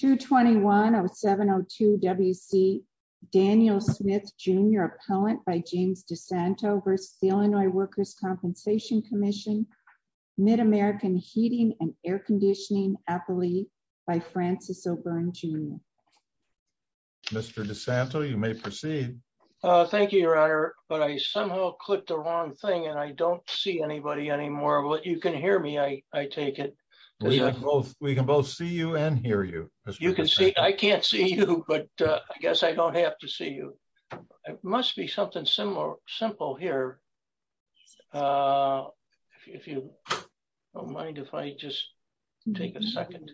221-0702-WC Daniel Smith Jr. Appellant by James DeSanto v. Illinois Workers' Compensation Comm'n Mid-American Heating and Air Conditioning Appellee by Francis O'Byrne Jr. Mr. DeSanto, you may proceed. Thank you, Your Honor, but I somehow clicked the wrong thing and I don't see anybody anymore. You can hear me, I take it. We can both see you and hear you. I can't see you, but I guess I don't have to see you. It must be something simple here. If you don't mind if I just take a second.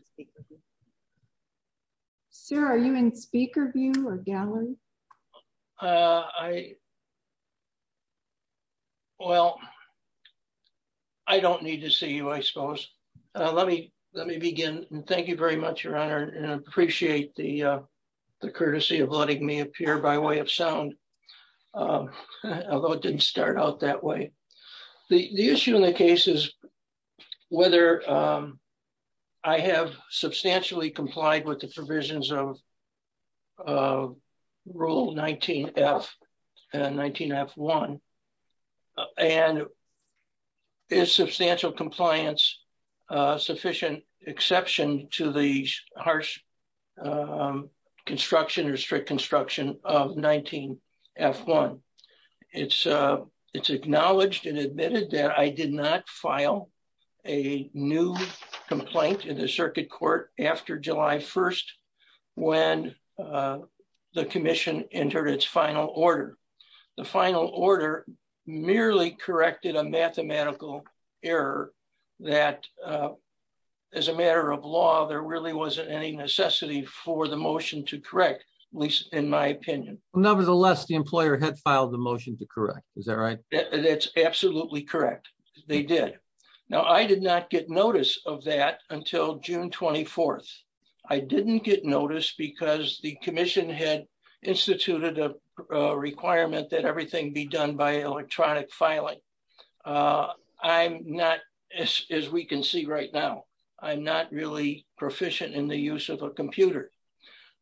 Sir, are you in speaker view or gallery? Well, I don't need to see you, I suppose. Let me begin. Thank you very much, Your Honor, and I appreciate the courtesy of letting me appear by way of sound, although it didn't start out that way. The issue in the case is whether I have substantially complied with the provisions of Rule 19F and 19F1, and is substantial compliance a sufficient exception to the harsh construction or strict construction of 19F1. It's acknowledged and approved by the Commission on July 1st, when the Commission entered its final order. The final order merely corrected a mathematical error that as a matter of law, there really wasn't any necessity for the motion to correct, at least in my opinion. Nevertheless, the employer had filed the motion to correct. Is that right? That's absolutely correct. They did. Now, I did not get notice of that until June 24th. I didn't get notice because the Commission had instituted a requirement that everything be done by electronic filing. I'm not, as we can see right now, I'm not really proficient in the use of a computer.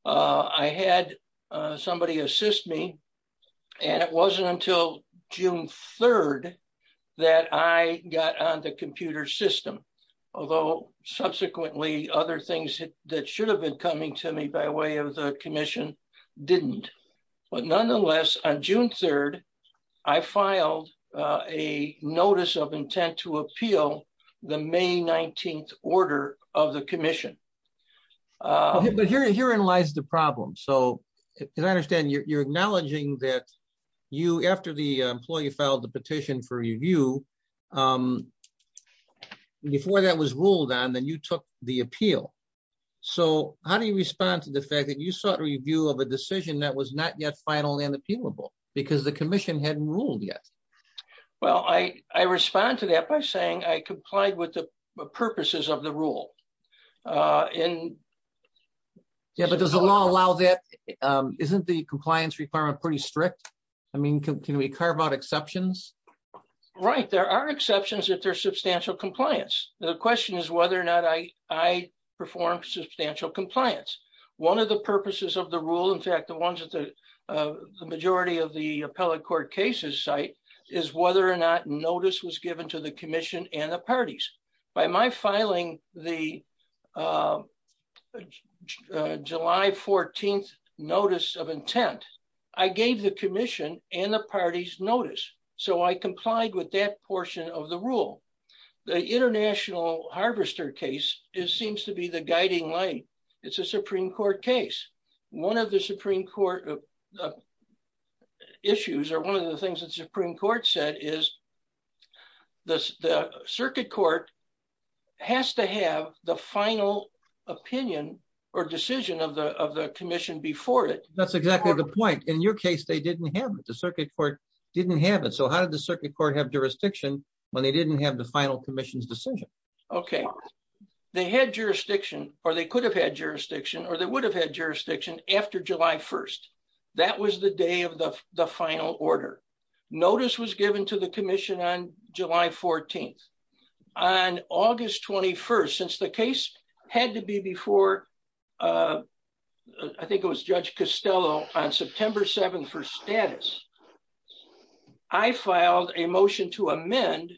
I had somebody assist me, and it wasn't until June 3rd that I got on the computer system, although subsequently, other things that should have been coming to me by way of the Commission didn't. But nonetheless, on June 3rd, I filed a notice of intent to appeal the May 19th order of the Commission. But herein lies the problem. So, as I understand, you're acknowledging that you, after the employee filed the petition for review, before that was ruled on, then you took the appeal. So, how do you respond to the fact that you sought review of a decision that was not yet final and appealable because the Commission hadn't ruled yet? Well, I respond to that by saying I complied with the purposes of the rule. Yeah, but does the law allow that? Isn't the compliance requirement pretty strict? I mean, can we carve out exceptions? Right, there are exceptions if there's substantial compliance. The question is whether or not I perform substantial compliance. One of the purposes of the rule, in fact, the ones that the majority of the appellate court cases cite, is whether or not notice was given to the Commission and the parties. By my filing the July 14th notice of intent, I gave the Commission and the parties notice. So, I complied with that portion of the rule. The International Harvester case seems to be the guiding light. It's a good case. One of the Supreme Court issues, or one of the things that the Supreme Court said is the Circuit Court has to have the final opinion or decision of the Commission before it. That's exactly the point. In your case, they didn't have it. The Circuit Court didn't have it. So, how did the Circuit Court have jurisdiction when they didn't have the final Commission's decision? Okay, they had jurisdiction, or they could have had jurisdiction, or they would have had jurisdiction on July 1st. That was the day of the final order. Notice was given to the Commission on July 14th. On August 21st, since the case had to be before, I think it was Judge Costello, on September 7th for status, I filed a motion to amend,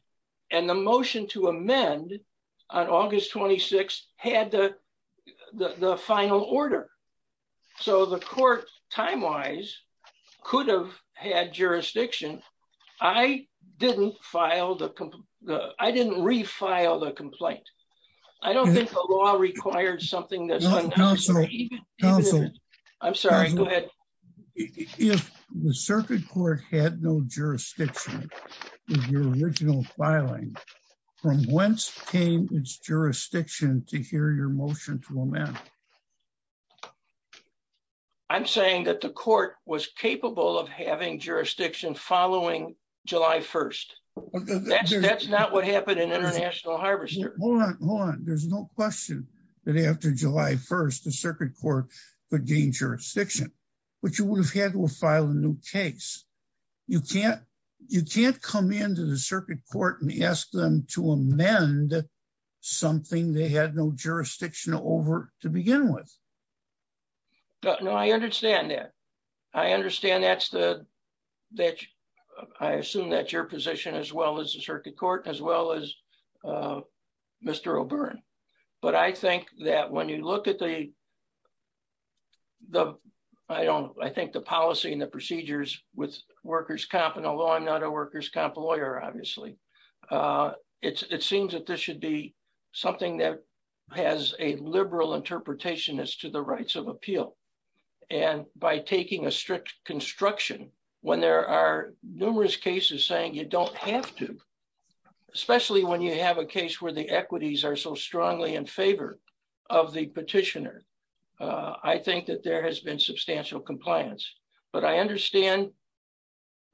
and the motion to amend on August 26th had the final order. So, the Court, time-wise, could have had jurisdiction. I didn't refile the complaint. I don't think the law requires something that's unconstitutional. I'm sorry, go ahead. If the Circuit Court had no jurisdiction in your original filing, from whence came its motion to amend? I'm saying that the Court was capable of having jurisdiction following July 1st. That's not what happened in International Harvester. Hold on, hold on. There's no question that after July 1st, the Circuit Court could gain jurisdiction, but you would have had to file a new case. You can't come into the Circuit Court and ask them to amend something they had no jurisdiction over to begin with. No, I understand that. I understand that's the, that, I assume that's your position as well as the Circuit Court, as well as Mr. O'Byrne, but I think that when you look at the, the, I don't, I think the policy and the procedures with workers' comp, and although I'm not a workers' comp lawyer, obviously, it seems that this should be something that has a liberal interpretation as to the rights of appeal. And by taking a strict construction, when there are numerous cases saying you don't have to, especially when you have a case where the equities are so strongly in favor of the petitioner, I think that there has been substantial compliance. But I understand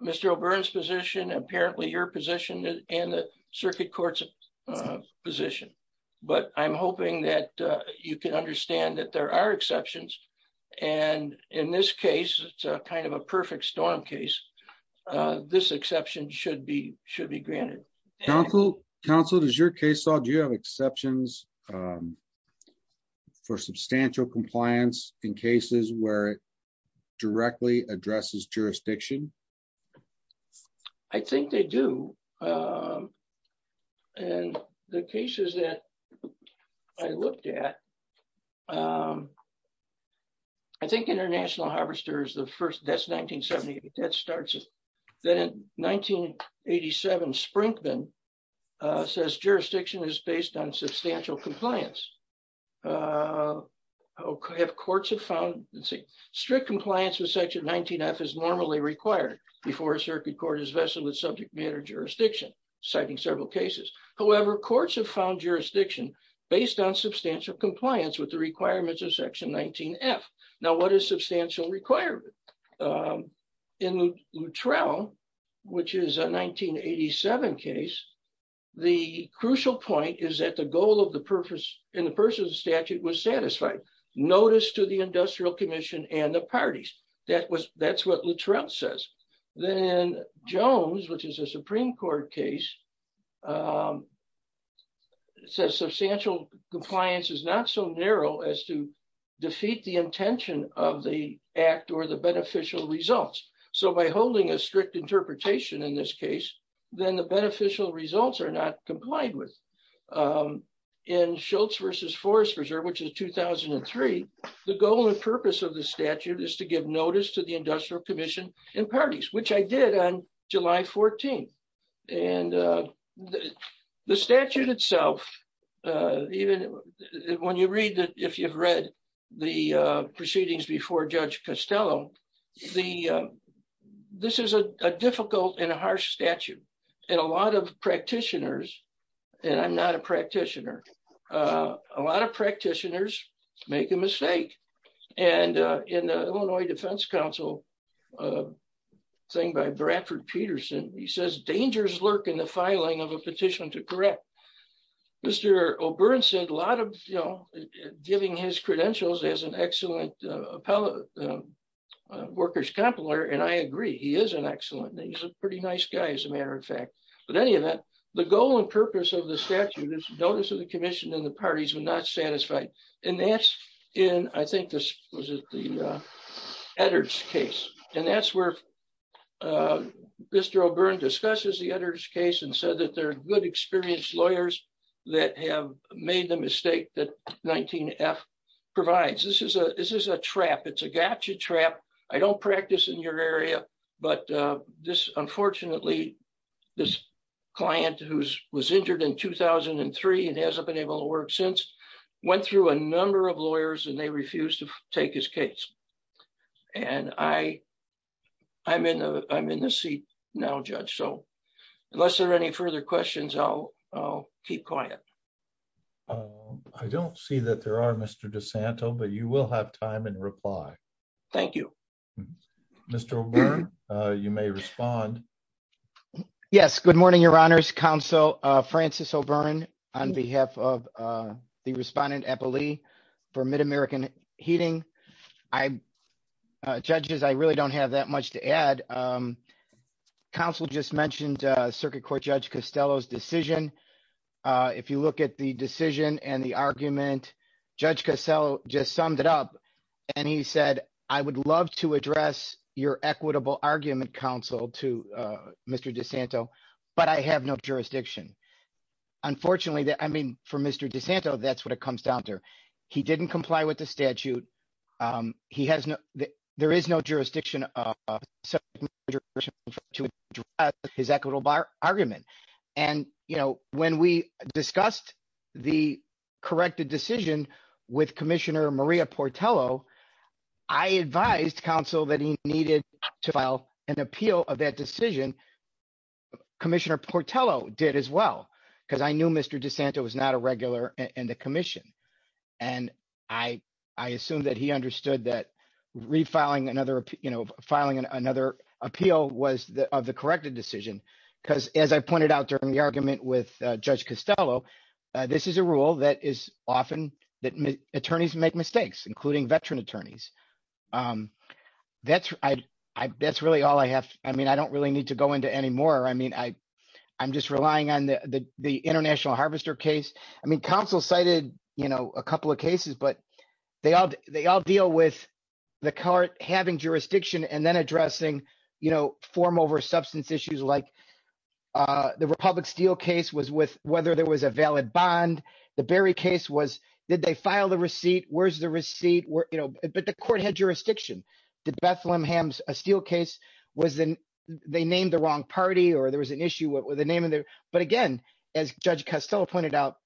Mr. O'Byrne's position, apparently your position, and the Circuit Court's position, but I'm hoping that you can understand that there are exceptions. And in this case, it's kind of a perfect storm case. This exception should be, should be granted. Council, Council, does your case, do you have exceptions for substantial compliance in cases where it directly addresses jurisdiction? I think they do. And the cases that I looked at, I think International Harvester is the first, that's 1978, that starts it. Then in 1987, Sprinkman says jurisdiction is based on substantial compliance. If courts have found, let's see, strict compliance with Section 19F is normally required before a Circuit Court is vested with subject matter jurisdiction, citing several cases. However, courts have found jurisdiction based on substantial compliance with the requirements of Section 19F. Now, what is substantial requirement? In Luttrell, which is a 1987 case, the crucial point is that the goal of the purpose, and the purpose of the statute was satisfied. Notice to the Industrial Commission and the parties. That was, that's what Luttrell says. Then Jones, which is a Supreme Court case, says substantial compliance is not so narrow as to defeat the intention of the act or the beneficial results. So by holding a strict interpretation in this case, then the beneficial results are not complied with. In Schultz v. Forest Preserve, which is 2003, the goal and purpose of the statute is to give notice to the Industrial Commission and parties, which I did on the statute itself. Even when you read, if you've read the proceedings before Judge Costello, this is a difficult and a harsh statute. And a lot of practitioners, and I'm not a practitioner, a lot of practitioners make a mistake. And in the Illinois Defense Council thing by Bradford Peterson, he says dangers lurk in the filing of a petition to correct. Mr. O'Byrne said a lot of, you know, giving his credentials as an excellent workers' compiler, and I agree, he is an excellent, he's a pretty nice guy as a matter of fact. But any event, the goal and purpose of the statute is notice of the Commission and the parties were not satisfied. And that's in, I think this was at the Eddards case. And that's where Mr. O'Byrne discusses the Eddards case and said that there are good experienced lawyers that have made the mistake that 19F provides. This is a trap, it's a gotcha trap. I don't practice in your area, but this, unfortunately, this client who's was injured in 2003 and hasn't been able to work since, went through a number of lawyers and they refused to take his case. And I'm in the seat now, Judge. So unless there are any further questions, I'll keep quiet. I don't see that there are, Mr. DeSanto, but you will have time and reply. Thank you. Mr. O'Byrne, you may respond. Yes, good morning, Your Honors, Counsel Francis O'Byrne on behalf of the Respondent Eppley for Mid-American Heating. Judges, I really don't have that much to add. Counsel just mentioned Circuit Court Judge Costello's decision. If you look at the decision and the argument, Judge Costello just summed it up and he said, I would love to address your equitable argument, Counsel, to Mr. DeSanto, but I have no jurisdiction. Unfortunately, I mean, for Mr. DeSanto, that's what it comes down to. He didn't comply with the statute. There is no jurisdiction to address his equitable argument. And when we discussed the corrected decision with an appeal of that decision, Commissioner Portello did as well, because I knew Mr. DeSanto was not a regular in the commission. And I assume that he understood that refiling another, you know, filing another appeal was of the corrected decision. Because as I pointed out during the argument with Judge Costello, this is a rule that is often that attorneys make mistakes, including veteran attorneys. That's really all I have. I mean, I don't really need to go into any more. I mean, I'm just relying on the International Harvester case. I mean, Counsel cited, you know, a couple of cases, but they all deal with the court having jurisdiction and then addressing, you know, form over substance issues like the Republic Steel case was with whether there was a valid bond. The Berry case was, did they file the receipt? Where's the receipt? You know, but the court had jurisdiction. The Bethlehem Hams Steel case was they named the wrong party or there was an issue with the name. But again, as Judge Costello pointed out,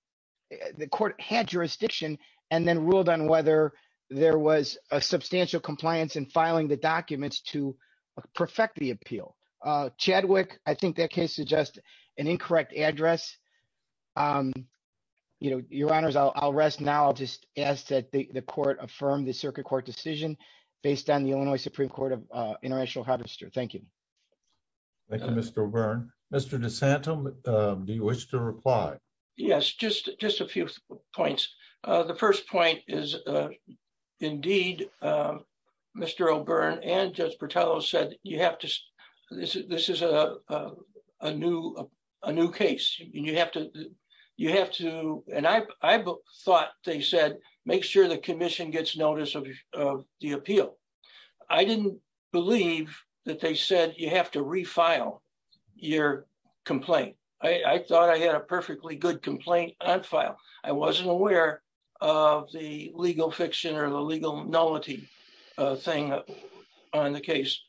the court had jurisdiction and then ruled on whether there was a substantial compliance in filing the documents to perfect the appeal. Chadwick, I think that case is just an incorrect address. You know, Your Honors, I'll rest now. I'll just ask that the court affirm the circuit court decision based on the Illinois Supreme Court of International Harvester. Thank you. Thank you, Mr. O'Byrne. Mr. DeSantam, do you wish to reply? Yes, just a few points. The first point is, indeed, Mr. O'Byrne and Judge Costello said you have to, this is a new case, and you have to, you have to, and I thought they said make sure the commission gets notice of the appeal. I didn't believe that they said you have to refile your complaint. I thought I had a perfectly good complaint on file. I wasn't aware of the legal fiction or the legal nullity thing on the case.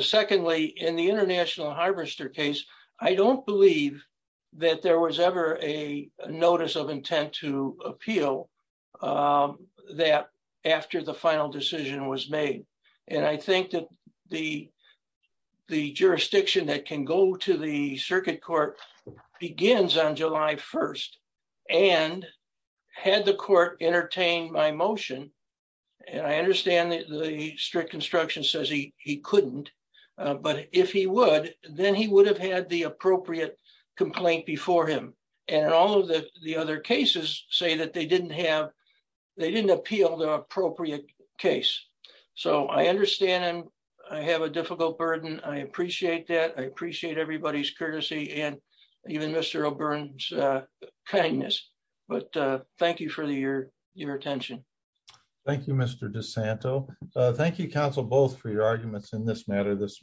Secondly, in the International Harvester case, I don't believe that there was ever a notice of intent to appeal that after the final decision was made, and I think that the jurisdiction that can go to the circuit court begins on July 1st, and had the court entertained my motion, and I understand the strict instruction says he couldn't, but if he would, then he would have had the appropriate complaint before him, and all of the other cases say that they didn't have, they didn't appeal the appropriate case, so I understand, and I have a difficult burden. I appreciate that. I appreciate everybody's courtesy and even Mr. O'Byrne's kindness, but thank you for your attention. Thank you, Mr. DeSanto. Thank you, counsel, both for your arguments in this matter this morning.